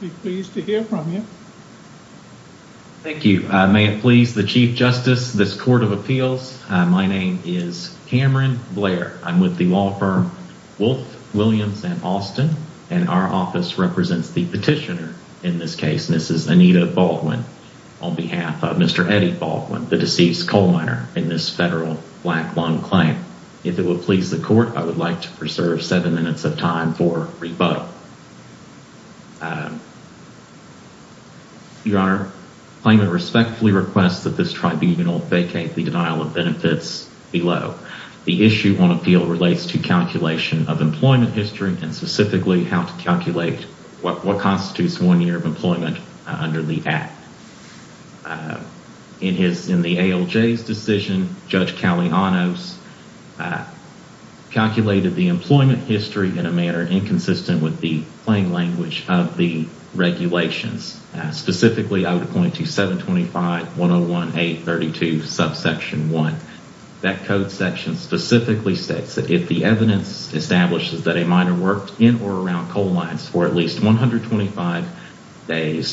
Be pleased to hear from you. Thank you. May it please the Chief Justice of this Court of Appeals, my name is Cameron Blair. I'm with the law firm Wolf, Williams & Austin, and our office represents the petitioner in this case, Mrs. Anita Baldwin, on behalf of Mr. Eddie Baldwin, the deceased coal miner in this federal black lung claim. If it will please the Court, I would like to preserve seven minutes of time for rebuttal. Your Honor, the claimant respectfully requests that this tribunal vacate the denial of benefits below. The issue on appeal relates to calculation of employment history and specifically how to calculate what constitutes one year of employment under the Act. In the ALJ's decision, Judge Calianos calculated the employment history in a manner inconsistent with the plain language of the regulations. Specifically, I would point to 725.1018.32 subsection 1. That code section specifically states that if the evidence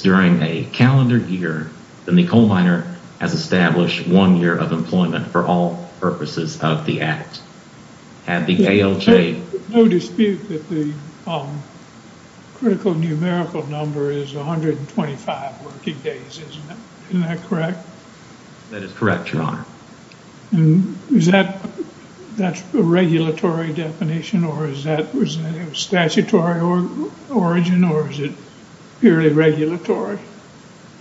during a calendar year, then the coal miner has established one year of employment for all purposes of the Act. Had the ALJ... No dispute that the critical numerical number is 125 working days, isn't that correct? That is correct, Your Honor. And is that that's a regulatory definition or is it a statutory origin or is it purely regulatory?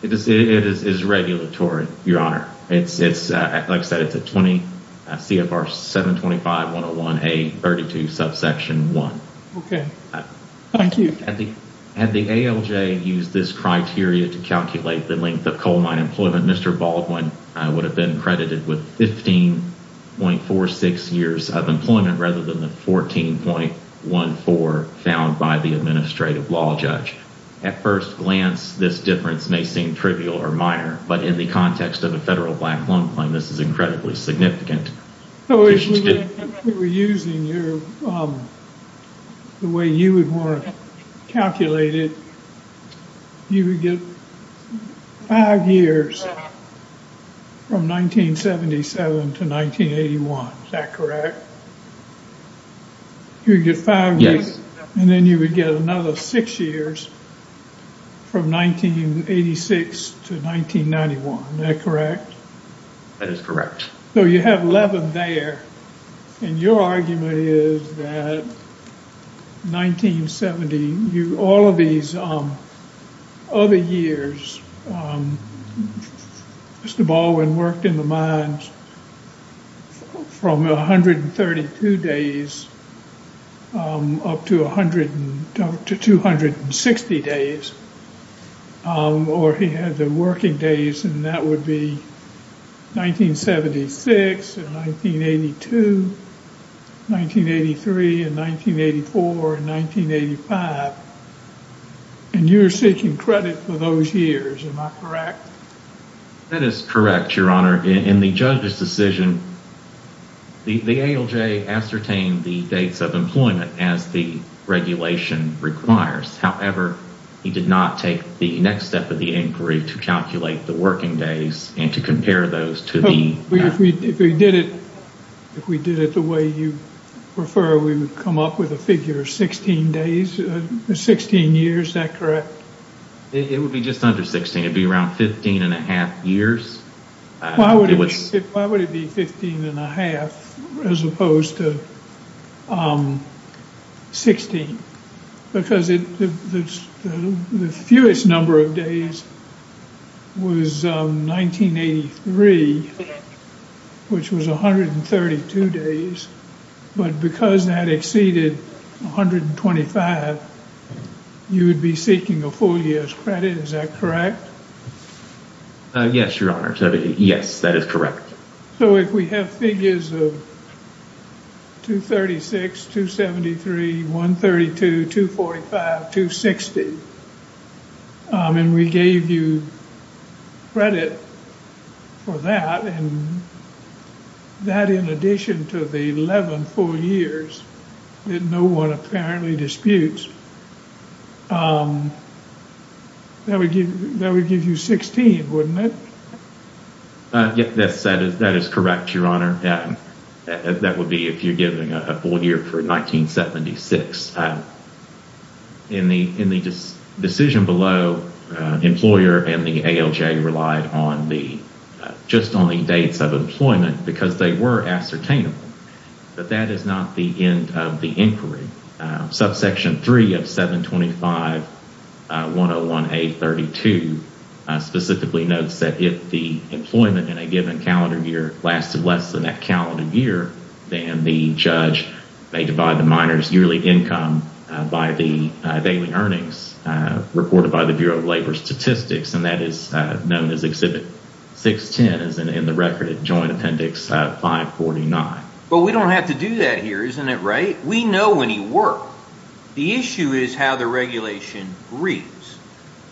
It is regulatory, Your Honor. It's like I said, it's a CFR 725.1018.32 subsection 1. Okay, thank you. Had the ALJ used this criteria to calculate the length of coal mine employment, Mr. Baldwin would have been credited with 15.46 years of employment rather than the 14.14 found by the administrative law judge. At first glance, this difference may seem trivial or minor, but in the context of a federal black loan claim, this is incredibly significant. So if we were using the way you would want to calculate it, you would get five years from 1977 to 1981, is that correct? You would get five years and then you would get another six years from 1986 to 1991, is that correct? That is correct. So you have 11 there and your argument is that 1970, all of these other years, Mr. Baldwin worked in the mines from 132 days up to 260 days or he had the working days and that would be 1976 and 1982, 1983 and 1984 and 1985 and you're seeking credit for those years, am I correct? That is correct, Your Honor. In the judge's decision, the ALJ ascertained the dates of employment as the regulation requires. However, he did not take the next step of the inquiry to calculate the working days and to compare those to the... If we did it the way you prefer, we would come up with a figure of 16 days, 16 years, is that correct? It would be just under 16. It would be around 15 and a half years. Why would it be 15 and a half as opposed to 16? Because the fewest number of days was 1983, which was 132 days, but because that exceeded 125, you would be seeking a full year's credit, is that correct? Yes, Your Honor. Yes, that is correct. So if we have figures of 236, 273, 132, 245, 260 and we gave you credit for that and that in addition to the 11 full years that no one apparently disputes, that would give you 16, wouldn't it? Yes, that is correct, Your Honor. That would be if you're giving a full year for 1976. In the decision below, the employer and the ALJ relied just on the dates of employment because they were ascertainable, but that is not the end of the inquiry. Subsection 3 of 725-101A-32 specifically notes that if the employment in a given calendar year lasted less than that calendar year, then the judge may divide the minor's yearly income by the daily earnings reported by the 549. But we don't have to do that here, isn't it right? We know when he worked. The issue is how the regulation reads.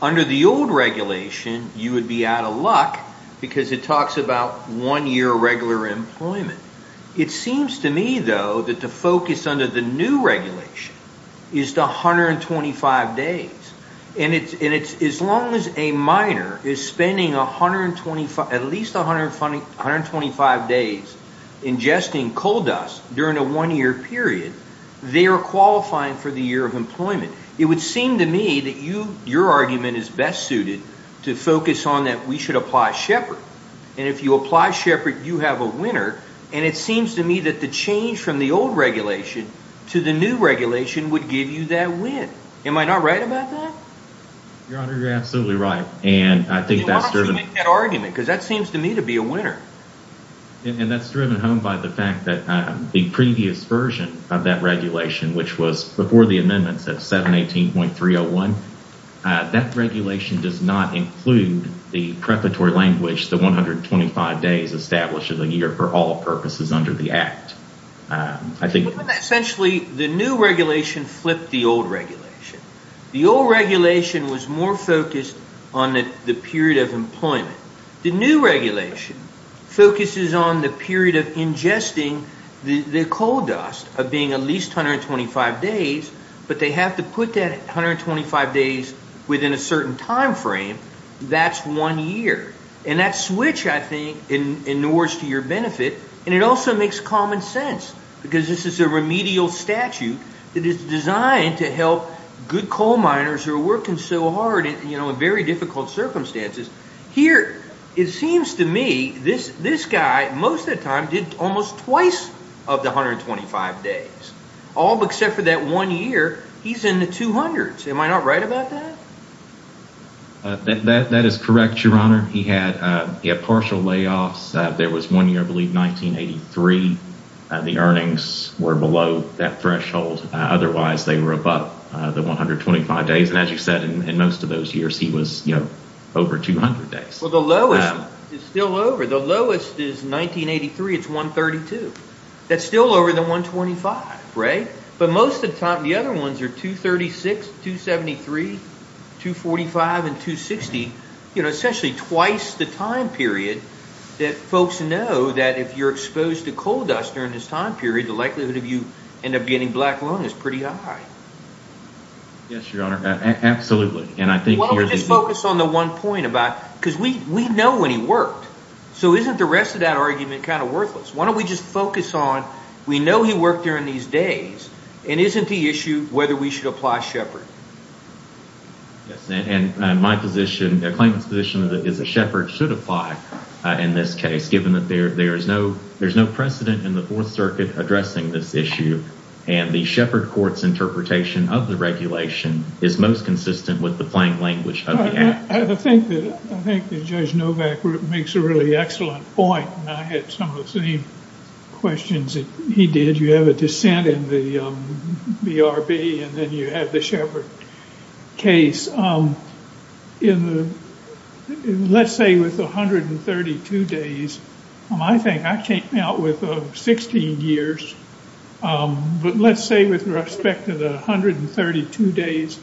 Under the old regulation, you would be out of luck because it talks about one-year regular employment. It seems to me, though, that the focus under the new regulation is the 125 days. As long as a minor is spending at least 125 days ingesting coal dust during a one-year period, they are qualifying for the year of employment. It would seem to me that your argument is best suited to focus on that we should apply Shepard. If you apply Shepard, you have a and it seems to me that the change from the old regulation to the new regulation would give you that win. Am I not right about that? Your Honor, you're absolutely right. Why don't you make that argument because that seems to me to be a winner. And that's driven home by the fact that the previous version of that regulation, which was before the amendments at 718.301, that regulation does not include the preparatory language, the 125 days established as a year for all purposes under the Act. Essentially, the new regulation flipped the old regulation. The old regulation was more focused on the period of employment. The new regulation focuses on the period of ingesting the coal dust of being at least 125 days, but they have to put that 125 days within a certain time frame. That's one year. And that switch, I think, in Newark's to your benefit, and it also makes common sense because this is a remedial statute that is designed to help good coal miners who are working so hard in very difficult circumstances. Here, it seems to me, this guy most of the time did almost twice of the 125 days. All except for that one year, he's in the 200s. Am I not right about that? That is correct, Your Honor. He had partial layoffs. There was one year, I believe, 1983. The earnings were below that threshold. Otherwise, they were above the 125 days. And as you said, in most of those years, he was over 200 days. Well, the lowest is still over. The lowest is 1983. It's 132. That's still over the 125, right? But most of the time, the other ones are 236, 273, 245, and 260. You know, essentially twice the time period that folks know that if you're exposed to coal dust during this time period, the likelihood of you end up getting black lung is pretty high. Yes, Your Honor. Absolutely. And I think- Why don't we just focus on the one point about, because we know when he worked. So isn't the rest of that argument kind of worthless? Why he worked during these days? And isn't the issue whether we should apply Shepard? Yes. And my position, the plaintiff's position is that Shepard should apply in this case, given that there's no precedent in the Fourth Circuit addressing this issue. And the Shepard Court's interpretation of the regulation is most consistent with the plain language of the act. I think that Judge Novak makes a really excellent point. And I had some of the same questions that he did. You have a dissent in the BRB, and then you have the Shepard case. Let's say with 132 days, I think I came out with 16 years. But let's say with respect to the 132 days,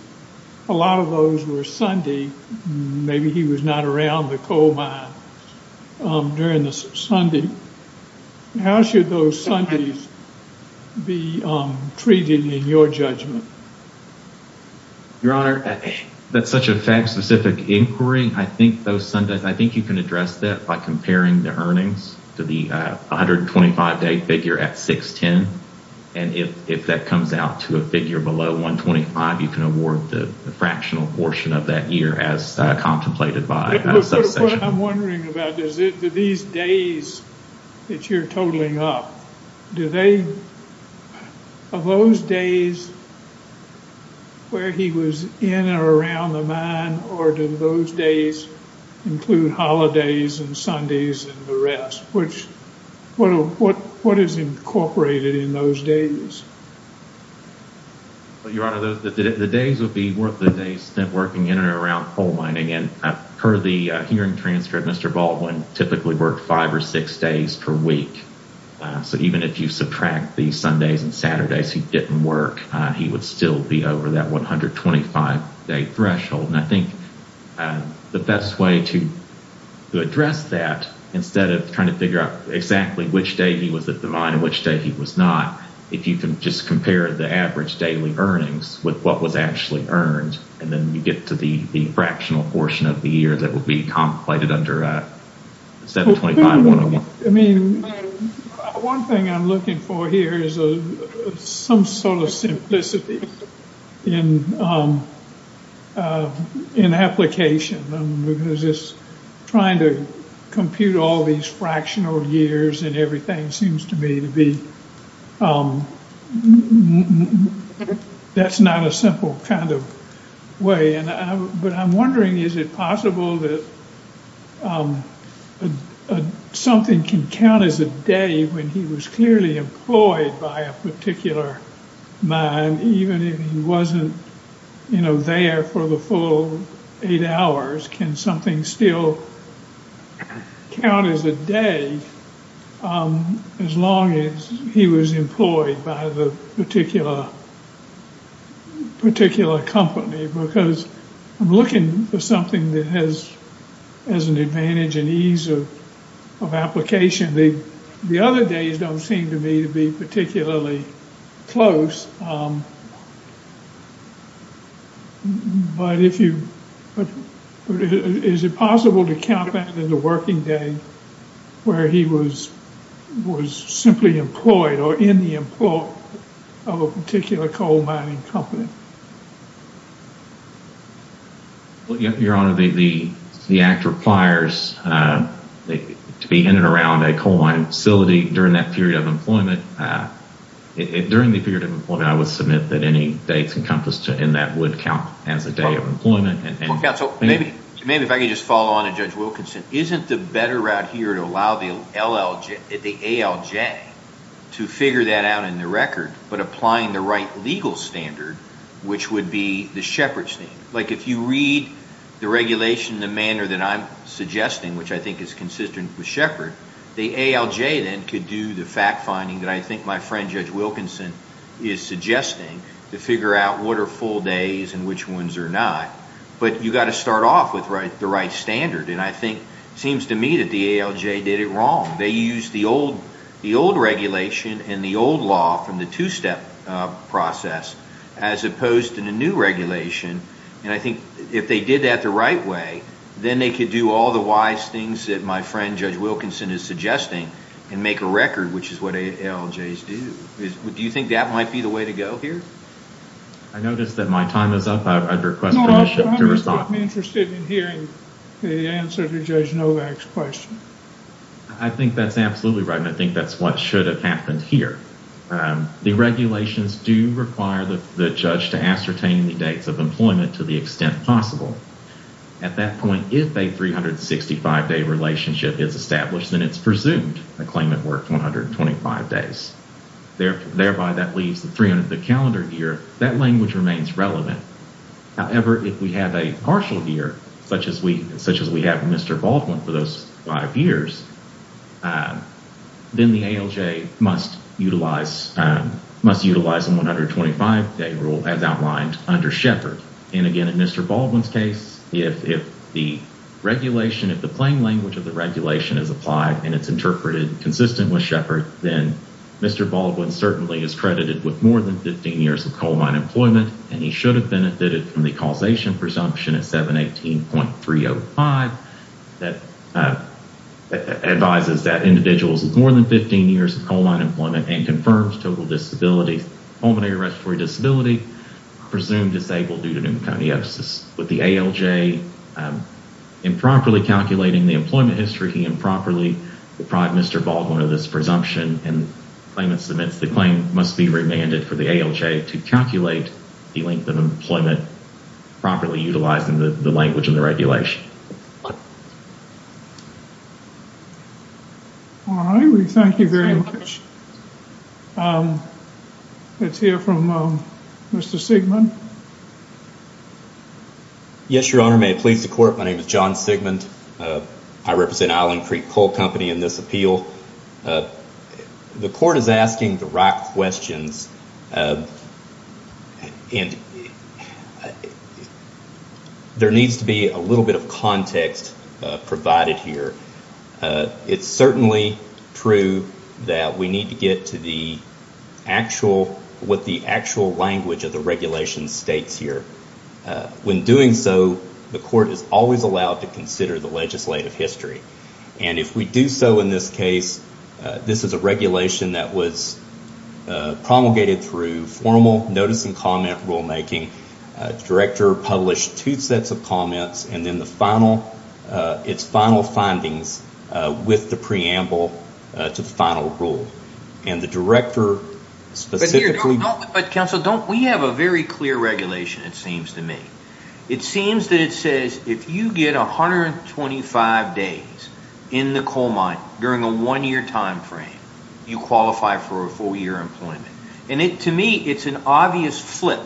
a lot of those were Sunday. Maybe he was not around the coal mine during the Sunday. How should those Sundays be treated in your judgment? Your Honor, that's such a fact-specific inquiry. I think those Sundays, I think you can address that by comparing the earnings to the 125-day figure at 610. And if that comes out to a figure below 125, you can award the fractional portion of that year as contemplated by subsection. What I'm wondering about is that these days that you're totaling up, do they, of those days where he was in or around the mine, or do those days include holidays and Sundays and the rest? What is incorporated in those days? Your Honor, the days would be worth the days spent working in and around coal mining. And per the hearing transcript, Mr. Baldwin typically worked five or six days per week. So even if you subtract the Sundays and Saturdays he didn't work, he would still be over that 125-day threshold. And I think the best way to address that, instead of trying to figure out exactly which day he was at the mine and which day he was not, if you can just compare the average daily earnings with what was actually earned, and then you get to the fractional portion of the year that would be contemplated under 725-101. I mean, one thing I'm looking for here is some sort of simplicity in application. Because just trying to compute all these fractional years and everything seems to me to be, that's not a simple kind of way. But I'm wondering, is it possible that something can count as a day when he was clearly employed by a particular mine? Even if he wasn't, you know, there for the full eight hours, can something still count as a day as long as he was employed by the particular particular company? Because I'm looking for something that has as an advantage and ease of of application. The other days don't seem to me to be particularly close. But if you, is it possible to count that as a working day where he was was simply employed or in the employ of a particular coal mining company? Well, your honor, the act requires to be in and around a coal mining facility during that period of employment. During the period of employment, I would submit that any dates encompassed in that would count as a day of employment. Maybe if I could just follow on Judge Wilkinson, isn't the better route here to allow the ALJ to figure that out in the record, but applying the right legal standard, which would be the Shepard standard. Like if you read the regulation in the manner that I'm suggesting, which I think is consistent with Shepard, the ALJ then could do the fact finding that I think my friend Judge Wilkinson is suggesting, to figure out what are full days and which ones are not. But you got to start off with the right standard. And I think it seems to me that the ALJ did it wrong. They used the old regulation and the old law from the two-step process as opposed to the new regulation. And I think if they did that the right way, then they could do all the wise things that my friend Judge Wilkinson is suggesting and make a record, which is what ALJs do. Do you think that might be the answer to Judge Novak's question? I think that's absolutely right. And I think that's what should have happened here. The regulations do require the judge to ascertain the dates of employment to the extent possible. At that point, if a 365-day relationship is established, then it's presumed the claimant worked 125 days. Thereby, that leaves the 300-day calendar year. That remains relevant. However, if we have a partial year, such as we have with Mr. Baldwin for those five years, then the ALJ must utilize a 125-day rule as outlined under Shepard. And again, in Mr. Baldwin's case, if the plain language of the regulation is applied and it's interpreted consistent with Shepard, then Mr. Baldwin certainly is credited with more than 15 years of coal mine employment, and he should have benefited from the causation presumption at 718.305 that advises that individuals with more than 15 years of coal mine employment and confirms total disability, pulmonary respiratory disability, are presumed disabled due to pneumoconiosis. With the ALJ improperly calculating the employment history, he improperly deprived Mr. Baldwin of presumption, and the claimant submits the claim must be remanded for the ALJ to calculate the length of employment properly utilizing the language in the regulation. All right, we thank you very much. Let's hear from Mr. Sigmund. Yes, Your Honor. May it please the Court, my name is John Sigmund. I represent Island Creek Coal Company in this appeal. The Court is asking the right questions, and there needs to be a little bit of context provided here. It's certainly true that we need to get to what the actual language of the regulation states here. When doing so, the Court is always allowed to consider the legislative history. If we do so in this case, this is a regulation that was promulgated through formal notice and comment rulemaking. The Director published two sets of comments, and then its final findings with the preamble to the final rule. The Director specifically... Counsel, we have a very clear regulation, it seems to me. It seems that it says if you get 125 days in the coal mine during a one-year time frame, you qualify for a four-year employment. To me, it's an obvious flip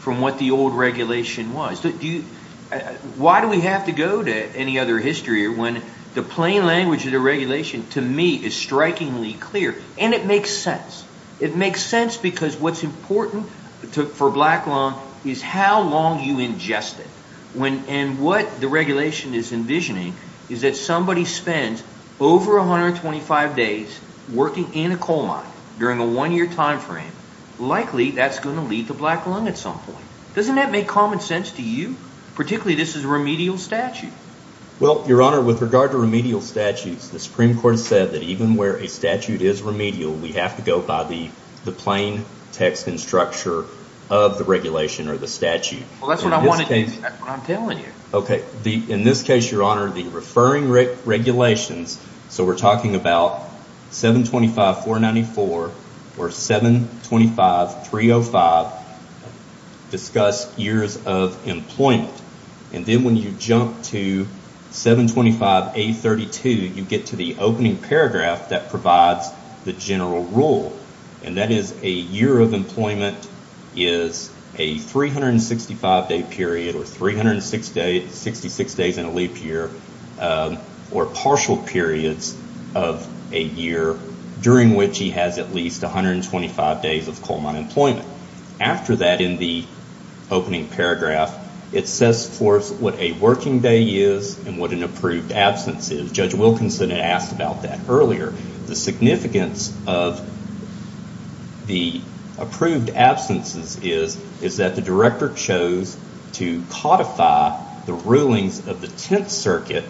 from what the old regulation was. Why do we have to go to any other history when the plain language of the regulation, to me, is strikingly clear, and it makes sense. It makes sense because what's important for Black Lung is how long you ingest it. What the regulation is envisioning is that somebody spends over 125 days working in a coal mine during a one-year time frame. Likely, that's going to lead to Black Lung at some point. Doesn't that make common sense to you? Particularly, this is a remedial statute. Your Honor, with regard to remedial statutes, the Supreme Court said that even where a statute is remedial, we have to go by the plain text and structure of the regulation or the statute. Well, that's what I'm telling you. Okay. In this case, Your Honor, the referring regulations, so we're talking about 725.494 or 725.305, discuss years of employment. Then when you jump to 725.832, you get to the opening paragraph that provides the general rule, and that is a year of employment is a 365-day period, or 366 days in a leap year, or partial periods of a year during which he has at least 125 days of coal mine employment. After that, in the opening paragraph, it says for us what a working day is and what an approved absence is. Judge Wilkinson had asked about that earlier. The significance of the approved absences is that the director chose to codify the rulings of the Tenth Circuit,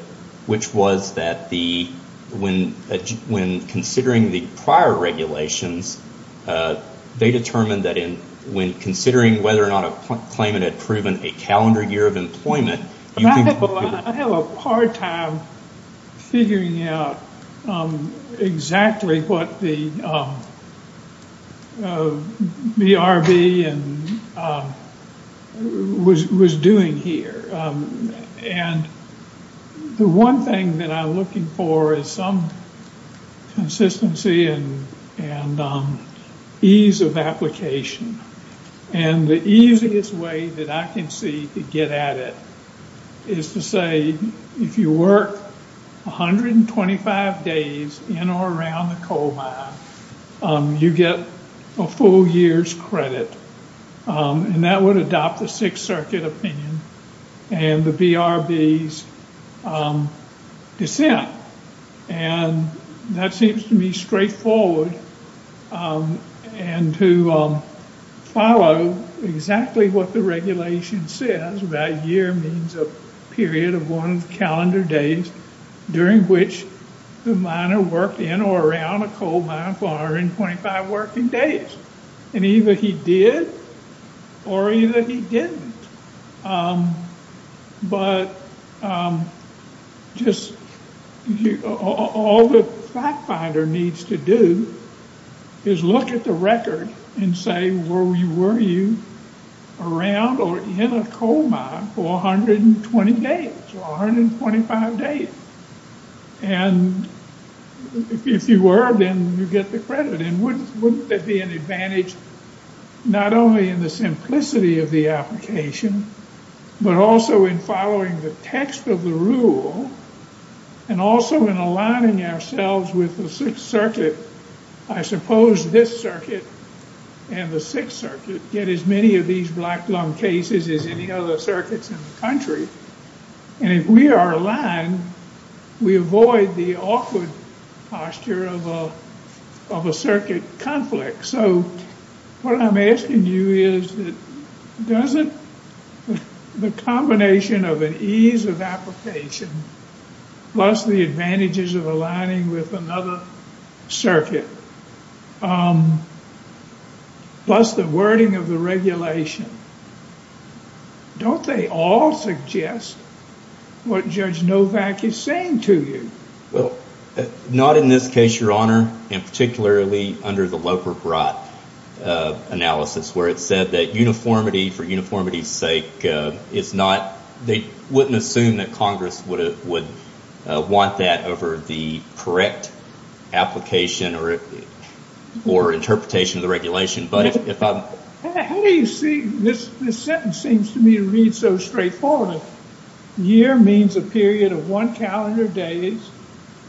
which was that when considering the prior regulations, they determined that when considering whether or not a claimant had proven a calendar year of employment... I have a hard time figuring out exactly what the BRB was doing here, and the one thing that I'm looking for is some consistency and ease of application, and the easiest way that I can see to get at it is to say if you work 125 days in or around the coal mine, you get a full year's credit, and that would adopt the Sixth Circuit opinion and the BRB's dissent, and that seems to me straightforward, and to follow exactly what the regulation says. That year means a period of one calendar day during which the miner worked in or around a calendar year. All the fact finder needs to do is look at the record and say were you around or in a coal mine for 120 days or 125 days, and if you were, then you get the credit, and wouldn't that be an advantage not only in the simplicity of the application, but also in following the text of the rule, and also in aligning ourselves with the Sixth Circuit. I suppose this circuit and the Sixth Circuit get as many of these black lung cases as any other circuits in the country, and if we are aligned, we avoid the awkward posture of a of a circuit conflict. So what I'm asking you is that doesn't the combination of an ease of application plus the advantages of aligning with another circuit plus the wording of the regulation, don't they all suggest what Judge Novak is saying to you? Well, not in this case, and particularly under the Loper-Brott analysis, where it said that uniformity for uniformity's sake is not, they wouldn't assume that Congress would want that over the correct application or interpretation of the regulation, but if I'm... How do you see, this sentence seems to me to straightforward. A year means a period of one calendar days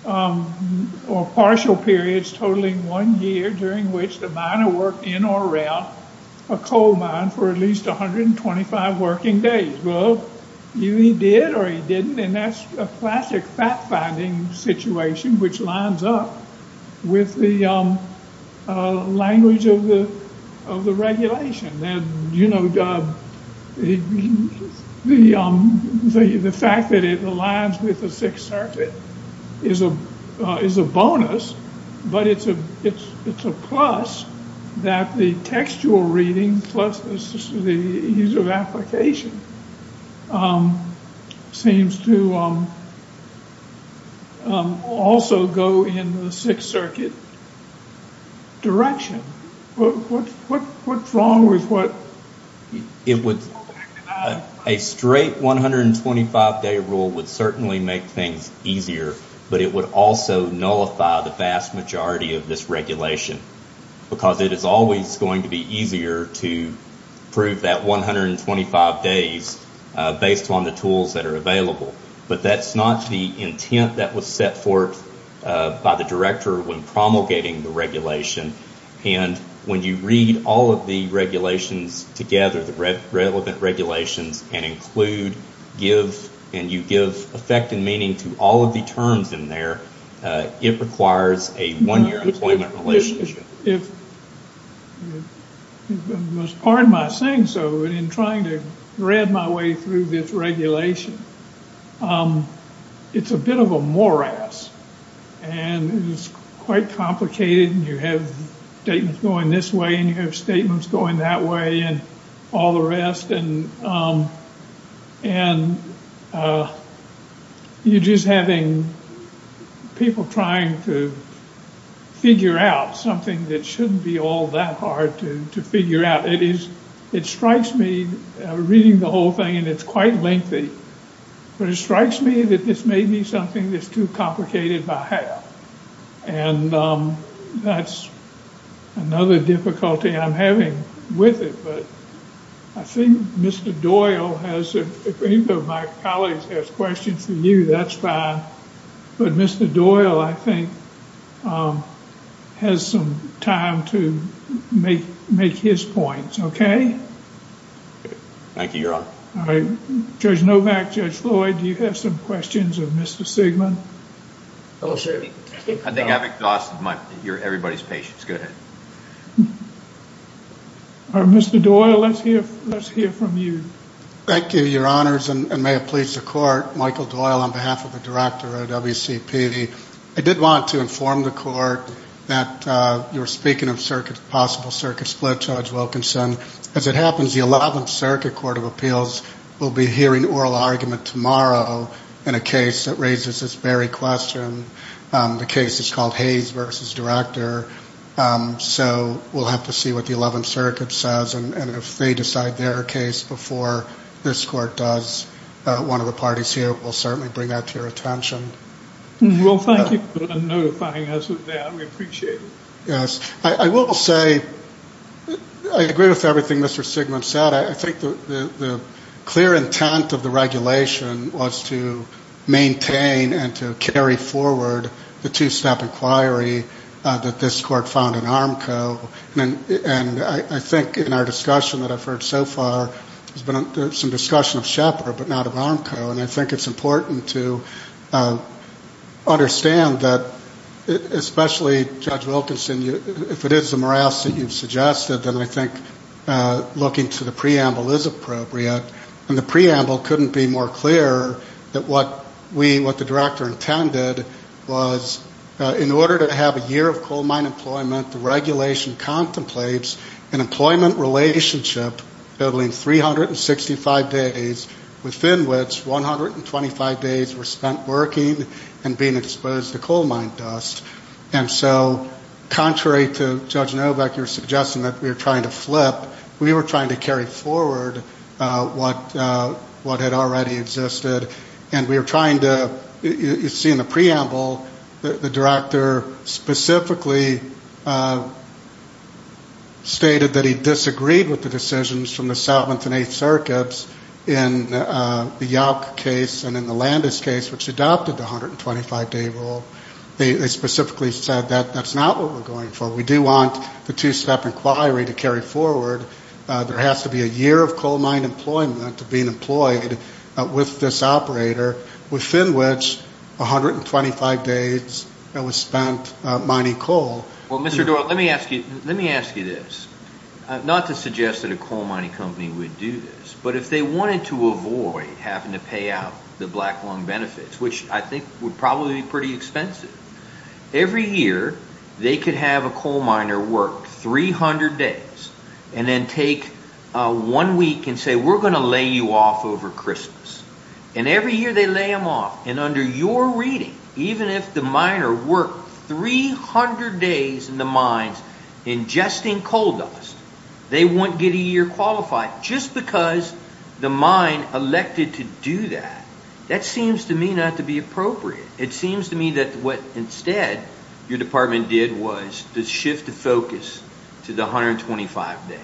or partial periods totaling one year during which the miner worked in or around a coal mine for at least 125 working days. Well, either he did or he didn't, and that's a classic fact-finding situation which lines up with the language of the of the regulation. And, you know, the fact that it aligns with the Sixth Circuit is a bonus, but it's a plus that the textual reading plus the ease of application seems to also go in the Sixth Circuit direction. What's wrong with what... It would... A straight 125-day rule would certainly make things easier, but it would also nullify the vast majority of this regulation, because it is always going to be easier to prove that 125 days based on the tools that are available. But that's not the intent that was set forth by the director when promulgating the regulation, and when you read all of the regulations together, the relevant regulations, and include, give, and you give effect and meaning to all of the terms in there, it requires a one-year employment relationship. If... In trying to read my way through this regulation, it's a bit of a morass, and it's quite complicated, and you have statements going this way, and you have statements going that way, and all the rest, and you're just having people trying to figure out something that shouldn't be all that hard to figure out. It is... It strikes me, reading the whole thing, and it's quite lengthy, but it strikes me that this may be something that's too complicated by half, and that's another difficulty I'm having with it. But I think Mr. Doyle has... If any of my colleagues have questions for you, that's fine, but Mr. Doyle, I think, has some time to make his points, okay? Thank you, Your Honor. All right, Judge Novak, Judge Floyd, do you have some questions of Mr. Sigmon? I think I've exhausted everybody's patience. Go ahead. All right, Mr. Doyle, let's hear from you. Thank you, Your Honors, and may it please the Court. Michael Doyle on behalf of the Director of WCP. I did want to inform the Court that you were speaking of possible circuit split, Judge Wilkinson. As it happens, the Eleventh Circuit Court of Appeals will be hearing oral argument tomorrow in a case that raises this very question. The case is called Hayes v. Director, so we'll have to see what the Eleventh Circuit says, and if they decide their case before this Court does, one of the parties here will certainly bring that to your attention. Well, thank you for notifying us of that. We appreciate it. Yes. I will say I agree with everything Mr. Sigmon said. I think the clear intent of the regulation was to maintain and to carry forward the two-step inquiry that this Court found in Armco, and I think in our discussion that I've heard so far, there's been some discussion of Shepard, but not of Armco, and I think it's important to understand that, especially, Judge Wilkinson, if it is the morass that you've suggested, then I think looking to the preamble is appropriate, and the preamble couldn't be more clear that what we, what the Director intended was, in order to have a year of coal mine employment, the regulation contemplates an employment relationship building 365 days, within which 125 days were spent working and being exposed to coal mine dust, and so contrary to Judge Novak, you're suggesting that we're trying to flip, we were trying to carry forward what had already existed, and we were trying to, you see in the preamble, the Director specifically stated that he disagreed with the decisions from the 7th and 8th Circuits in the Yauk case and in the Landis case, which adopted the 125-day rule. They specifically said that that's not what we're going for. We do want the two-step inquiry to carry forward. There has to be a year of coal mine employment to being employed with this operator, within which 125 days was spent mining coal. Well, Mr. Doyle, let me ask you this. Not to suggest that a coal mining company would do this, but if they wanted to avoid having to pay out the black lung benefits, which I think would probably be pretty expensive, every year they could have a coal miner work 300 days, and then take one week and say, we're going to lay you off over Christmas. And every year they lay them off, and under your reading, even if the miner worked 300 days in the mines ingesting coal dust, they won't get a year qualified. Just because the mine elected to do that, that seems to me not to be appropriate. It seems to me that what instead your department did was to shift the focus to the 125 days.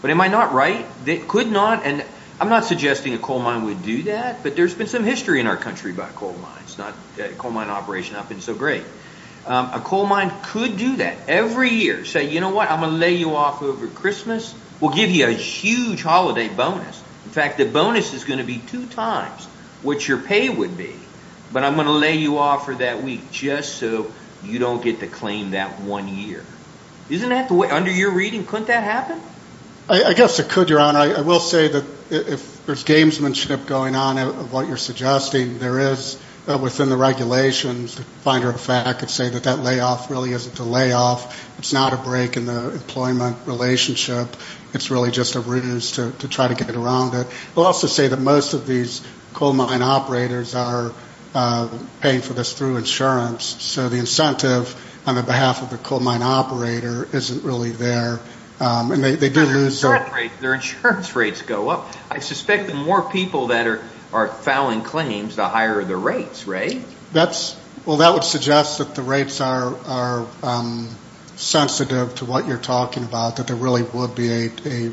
But am I not right? They could not, and I'm not suggesting a coal mine would do that, but there's been some history in our country about coal mines, not coal mine operation. I've been so great. A coal mine could do that every year. Say, you know what, I'm going to lay you off over Christmas. We'll give you a huge holiday bonus. In fact, the bonus is going to be two times what your pay would be, but I'm going to lay you off for that week, just so you don't get the claim that one year. Under your reading, couldn't that happen? I guess it could, your honor. I will say that if there's gamesmanship going on of what you're suggesting, there is within the regulations, the finder of fact could say that that layoff really isn't a layoff. It's not a break in the employment relationship. It's really just a ruse to try to get around it. I'll also say that most of these coal mine operators are paying for this through insurance, so the incentive on the behalf of the coal mine operator isn't really there. Their insurance rates go up. I suspect the more people that are filing claims, the higher the rates, right? That would suggest that the rates are sensitive to what you're talking about, that there really would be a,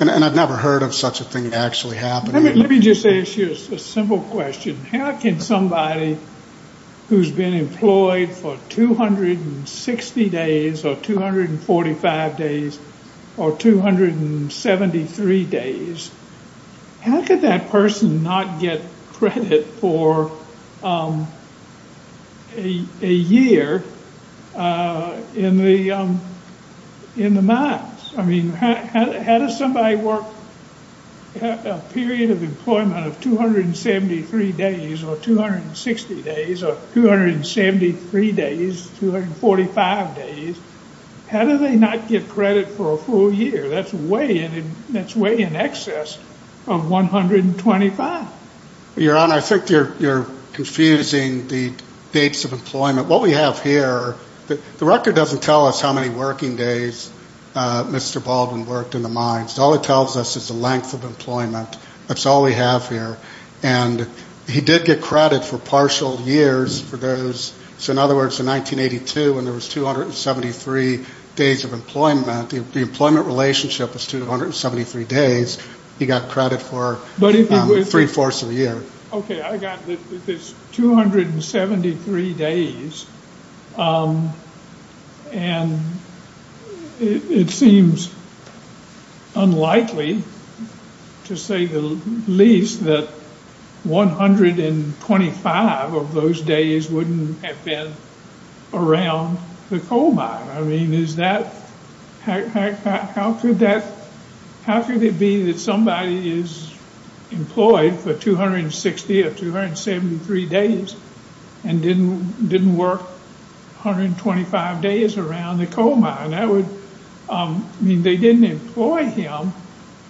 and I've never heard of such a thing actually happening. Let me just ask you a simple question. How can somebody who's been employed for 260 days or 245 days or 273 days, how could that person not get credit for a year in the mines? I mean, how does somebody work a period of employment of 273 days or 260 days or 273 days, 245 days, how do they not get credit for a full year? That's way in excess of 125. Your Honor, I think you're confusing the dates of employment. What we have here, the record doesn't tell us how many working days Mr. Baldwin worked in the mines. All it tells us is the length of employment. That's all we have here. And he did get credit for partial years for those, so in other words, in 1982 when there was 273 days of employment, the employment relationship was 273 days, he got credit for three-fourths of the year. Okay, I got this 273 days, and it seems unlikely to say the least that 125 of those days wouldn't have been around the coal mine. I mean, how could it be that somebody is employed for 260 or 273 days and didn't work 125 days around the coal mine? That would mean they didn't employ him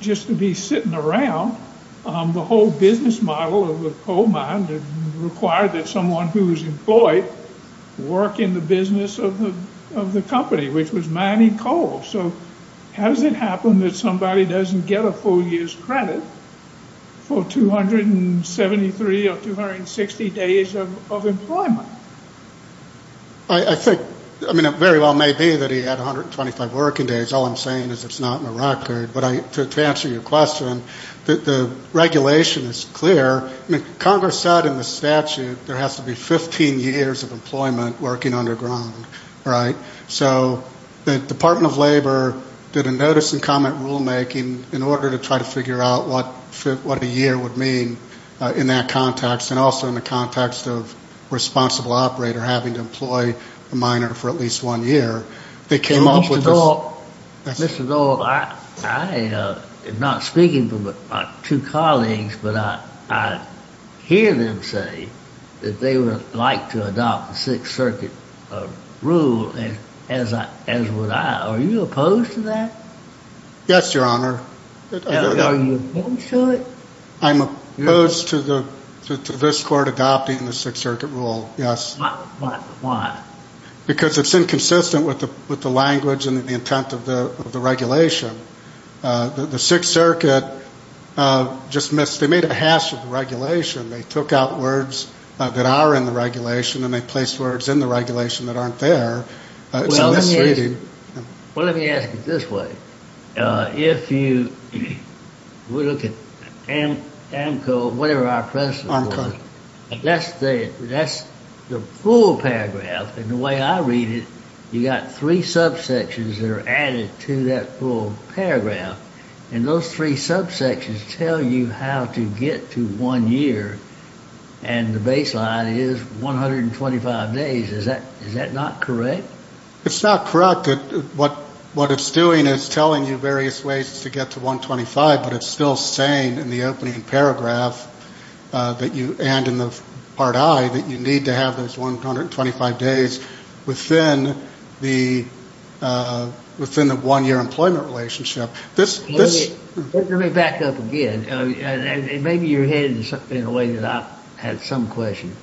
just to be sitting around. The whole business model of the coal mine required that someone who was employed work in the business of the company, which was mining coal. So how does it happen that somebody doesn't get a full year's credit for 273 or 260 days of employment? I think, I mean, it very well may be that he had 125 working days. All I'm saying is it's not in the record, but to answer your question, the regulation is clear. Congress said in the statute there has to be 15 years of employment working underground, right? So the Department of Labor did a notice and comment rulemaking in order to try to figure out what a year would mean in that context and also in the context of a responsible operator having to employ a miner for at least one year. They came up with this. Mr. Doyle, I am not speaking for my two colleagues, but I hear them say that they would like to adopt the Sixth Circuit rule as would I. Are you opposed to that? Yes, Your Honor. Are you opposed to it? I'm opposed to this court adopting the Sixth Circuit rule, yes. Why? Because it's inconsistent with the language and the intent of the regulation. The Sixth Circuit just missed, they made a hash of the regulation. They took out words that are in the regulation and they placed words in the regulation that aren't there. Well, let me ask it this way. If you look at AMCO, whatever our predecessor was, that's the full paragraph and the way I read it, you got three subsections that are added to that full paragraph. And those three subsections tell you how to get to one year and the baseline is 125 days. Is that not correct? It's not correct. What it's doing is telling you various ways to get to 125, but it's still saying in the opening paragraph that you, and in the part I, that you need to have those 125 days within the one-year employment relationship. Let me back up again and maybe you're headed in a way that I had some question.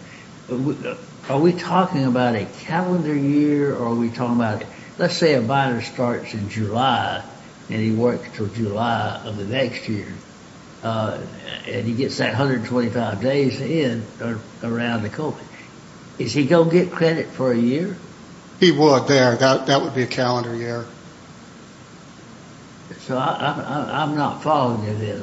Are we talking about a calendar year or are we talking about, let's say a buyer starts in and he works until July of the next year and he gets that 125 days in around the college. Is he going to get credit for a year? He would there. That would be a calendar year. So I'm not following you there.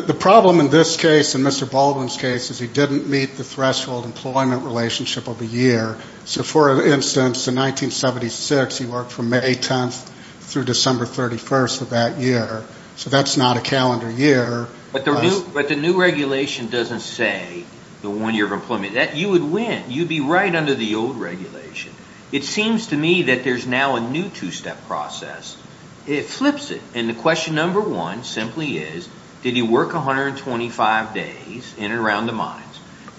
The problem in this case, in Mr. Baldwin's case, is he didn't meet the threshold employment relationship of a year. So for instance, in 1976, he worked from May 10th through December 31st of that year. So that's not a calendar year. But the new regulation doesn't say the one-year employment. You would win. You'd be right under the old regulation. It seems to me that there's now a new two-step process. It flips it. And the question number one simply is, did he work 125 days in and around the mines?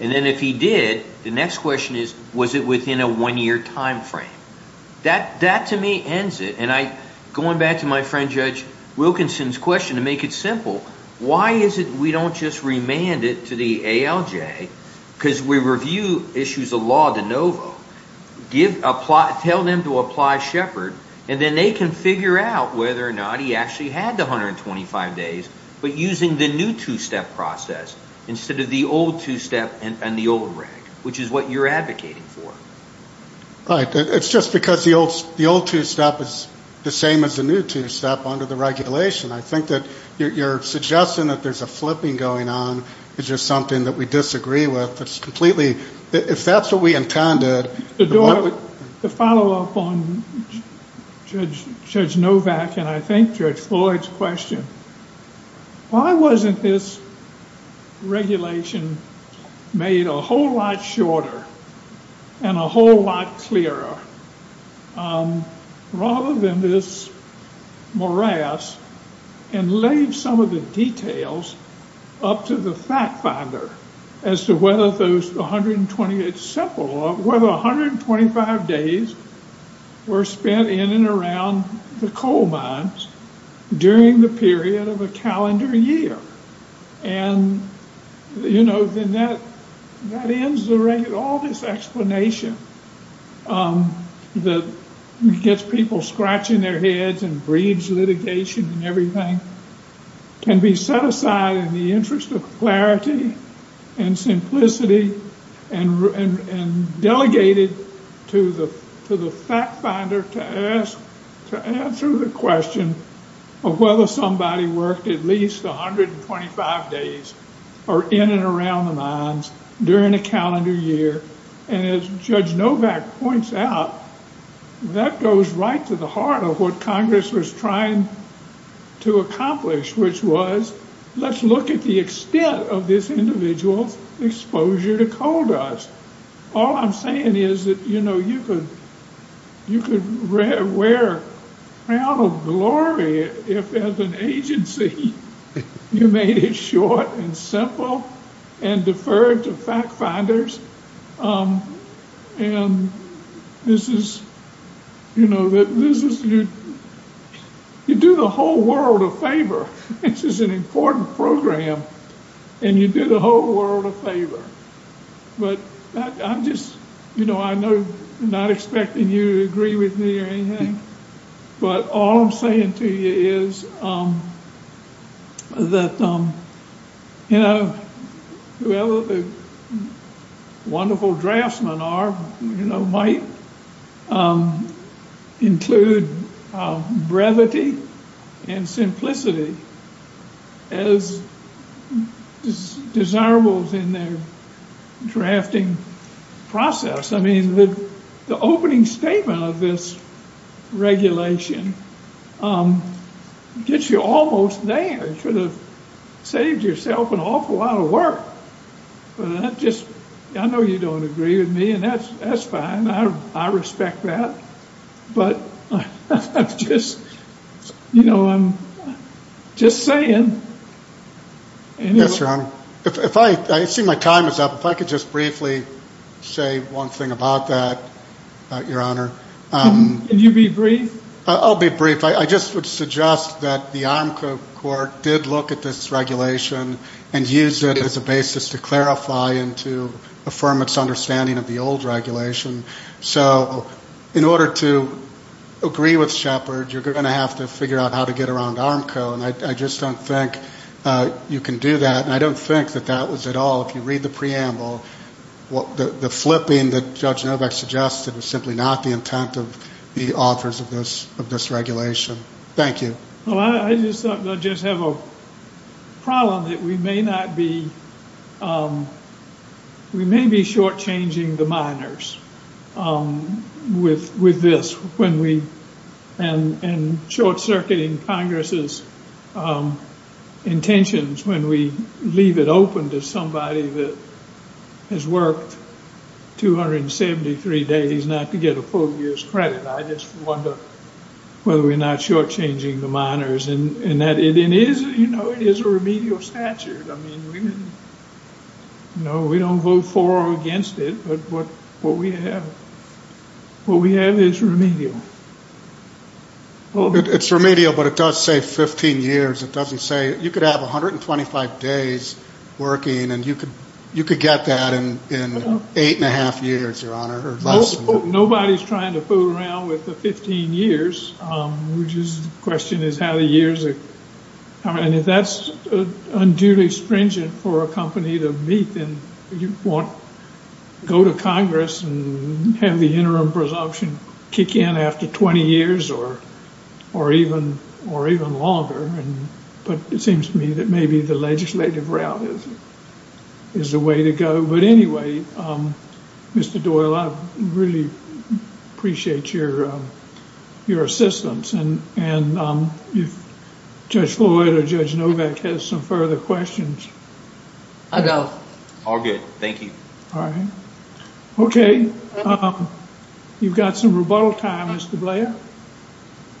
And then if he did, the next question is, was it within a one-year time frame? That to me ends it. And going back to my friend Judge Wilkinson's question, to make it simple, why is it we don't just remand it to the ALJ because we review issues of law de novo, tell them to apply Shepard, and then they can figure out whether or not he actually had the 125 days, but using the new two-step process instead of the old two-step and the old reg, which is what you're advocating for. Right. It's just because the old two-step is the same as the new two-step under the regulation. I think that you're suggesting that there's a flipping going on. It's just something that we disagree with. It's completely, if that's what we intended. To follow up on Judge Novak and I think Judge Floyd's question, why wasn't this regulation made a whole lot shorter and a whole lot clearer rather than this morass and leave some of the details up to the fact finder as to whether 120, it's simple, whether 125 days were spent in and around the coal mines during the period of a calendar year. And, you know, then that ends all this explanation that gets people scratching their heads and breeds litigation and everything can be set aside in the interest of clarity and simplicity and delegated to the fact finder to ask, to answer the question of whether somebody worked at least 125 days or in and around the mines during a calendar year. And as Judge Novak points out, that goes right to the heart of what Congress was trying to accomplish, which was, let's look at the extent of this individual's exposure to coal dust. All I'm saying is that, you know, you could wear a crown of glory if as an agency you made it short and simple and deferred to fact finders. And this is, you know, you do the whole world a favor. This is an important program, and you do the whole world a favor. But I'm just, you know, I'm not expecting you to agree with me or anything, but all I'm saying to you is that, you know, whoever the wonderful draftsmen are, you know, might include brevity and simplicity as desirables in their drafting process. I mean, the opening statement of this regulation gets you almost there. You should have saved yourself an awful lot of work. But that just, I know you don't agree with me, and that's fine. I respect that. But I'm just, you know, I'm just saying. Yes, Your Honor. I see my time is up. If I could just briefly say one thing about that, Your Honor. Can you be brief? I'll be brief. I just would suggest that the ARMCO court did look at this regulation and use it as a basis to clarify and to affirm its understanding of the old regulation. So in order to agree with Shepard, you're going to have to figure out how to get around ARMCO, and I just don't think you can do that. And I don't think that that was at all, if you read the preamble, the flipping that Judge Novak suggested was simply not the intent of the authors of this regulation. Thank you. Well, I just have a problem that we may not be, we may be shortchanging the minors with this when we, and short-circuiting Congress's intentions when we leave it open to somebody that has worked 273 days not to get a full year's credit. I just wonder whether we're not shortchanging the minors, and that it is, you know, it is a remedial statute. I mean, we didn't, no, we don't vote for or against it, but what we have, what we have is remedial. It's remedial, but it does say 15 years. It doesn't say, you could have 125 days working, and you could, you could get that in eight and a half years, Your Honor, or less. Nobody's trying to fool around with the 15 years, which is, the question is how the years are, and if that's unduly stringent for a company to meet, then you won't go to Congress and have the interim presumption kick in after 20 years or, or even, or even longer, and, but it seems to me that maybe the legislative route is, is the way to go, but anyway, Mr. Doyle, I really appreciate your, your assistance, and, and if Judge Floyd or Judge Novak has some further questions. I don't. All good. Thank you. All right. Okay. You've got some rebuttal time, Mr. Blair.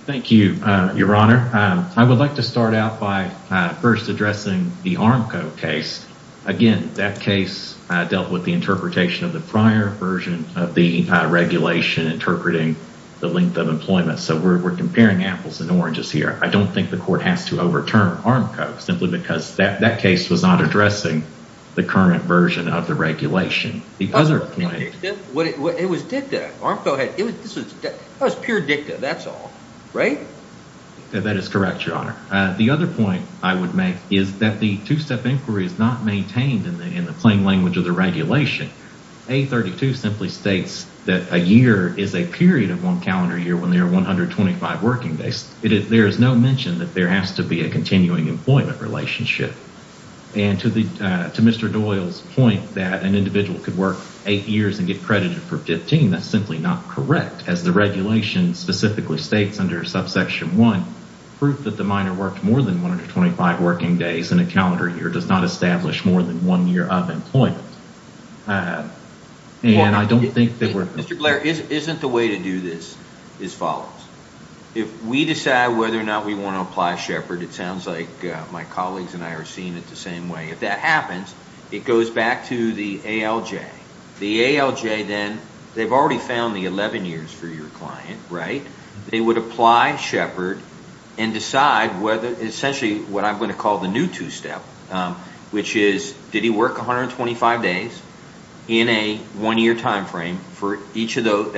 Thank you, Your Honor. I would like to start out by first addressing the Armco case. Again, that case dealt with the interpretation of the prior version of the regulation interpreting the length of employment, so we're comparing apples and oranges here. I don't think the court has to overturn Armco simply because that, that case was not addressing the current version of the regulation. The other point. It was dicta. Armco had, it was, this was, that was pure dicta, that's all, right? That is correct, Your Honor. The other point I would make is that the two-step inquiry is not maintained in the, in the plain language of the regulation. A32 simply states that a year is a period of one calendar year when there are 125 working days. There is no mention that there has to be a continuing employment relationship, and to the, to Mr. Doyle's point that an individual could work eight years and get credited for 15, that's simply not correct. As the regulation specifically states under subsection 1, proof that the minor worked more than 125 working days in a calendar year does not establish more than one year of employment. And I don't think that we're... Mr. Blair, isn't the way to do this is follows. If we decide whether or not we want to apply Shepard, it sounds like my colleagues and I are seeing it the same way. If that happens, it goes back to the ALJ. The ALJ then, they've already found the 11 years for your client, right? They would apply Shepard and decide essentially what I'm going to call the new two-step, which is did he work 125 days in a one-year time frame for each of those,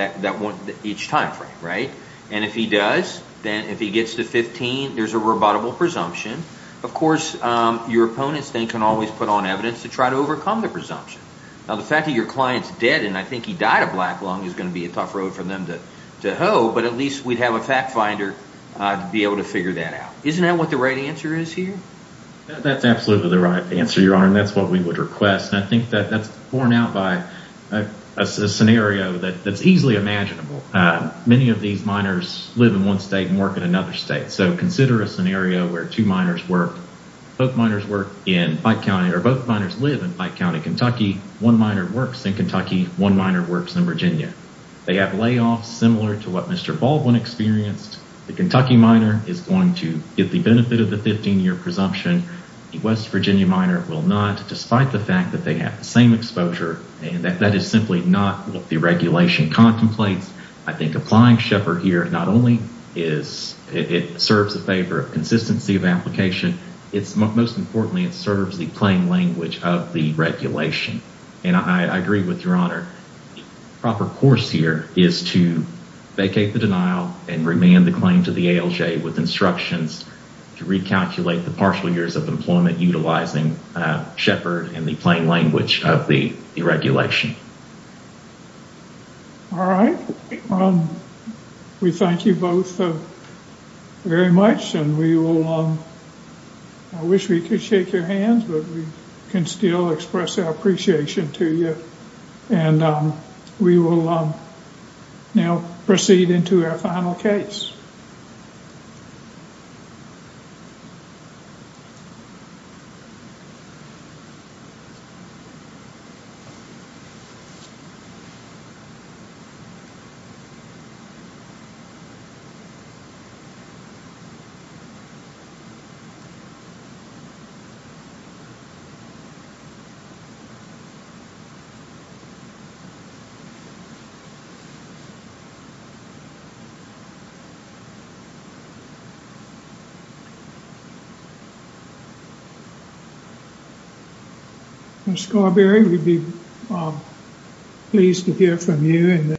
each time frame, right? And if he does, then if he gets to 15, there's a rebuttable presumption. Of course, your opponents then can always put on evidence to try to overcome the presumption. Now the fact that your client's dead, and I think he died of black lung, is going to be a tough road for them to to hoe, but at least we'd have a fact finder to be able to figure that out. Isn't that what the right answer is here? That's absolutely the right answer, Your Honor, and that's what we would request. I think that that's borne out by a scenario that's easily imaginable. Many of these minors live in one state and work in another state, so consider a scenario where two minors work, both minors work in Pike County, or both minors live in Pike County, Kentucky, one minor works in Kentucky, one minor works in Virginia. They have layoffs similar to what Mr. Baldwin experienced. The Kentucky minor is going to get the benefit of the 15-year presumption. The West Virginia minor will not, despite the fact that they have the same exposure, and that is simply not what the regulation contemplates. I think applying Sheppard here not only serves the favor of consistency of application, it's most importantly, it serves the plain language of the regulation, and I agree with Your Honor. The proper course here is to vacate the denial and remand the claim to the ALJ with instructions to recalculate the partial years of employment utilizing Sheppard and the plain language of the regulation. All right. We thank you both very much, and we will, I wish we could shake your hands, but we can still express our appreciation to you, and we will now proceed into our final case. Pleased to hear from you.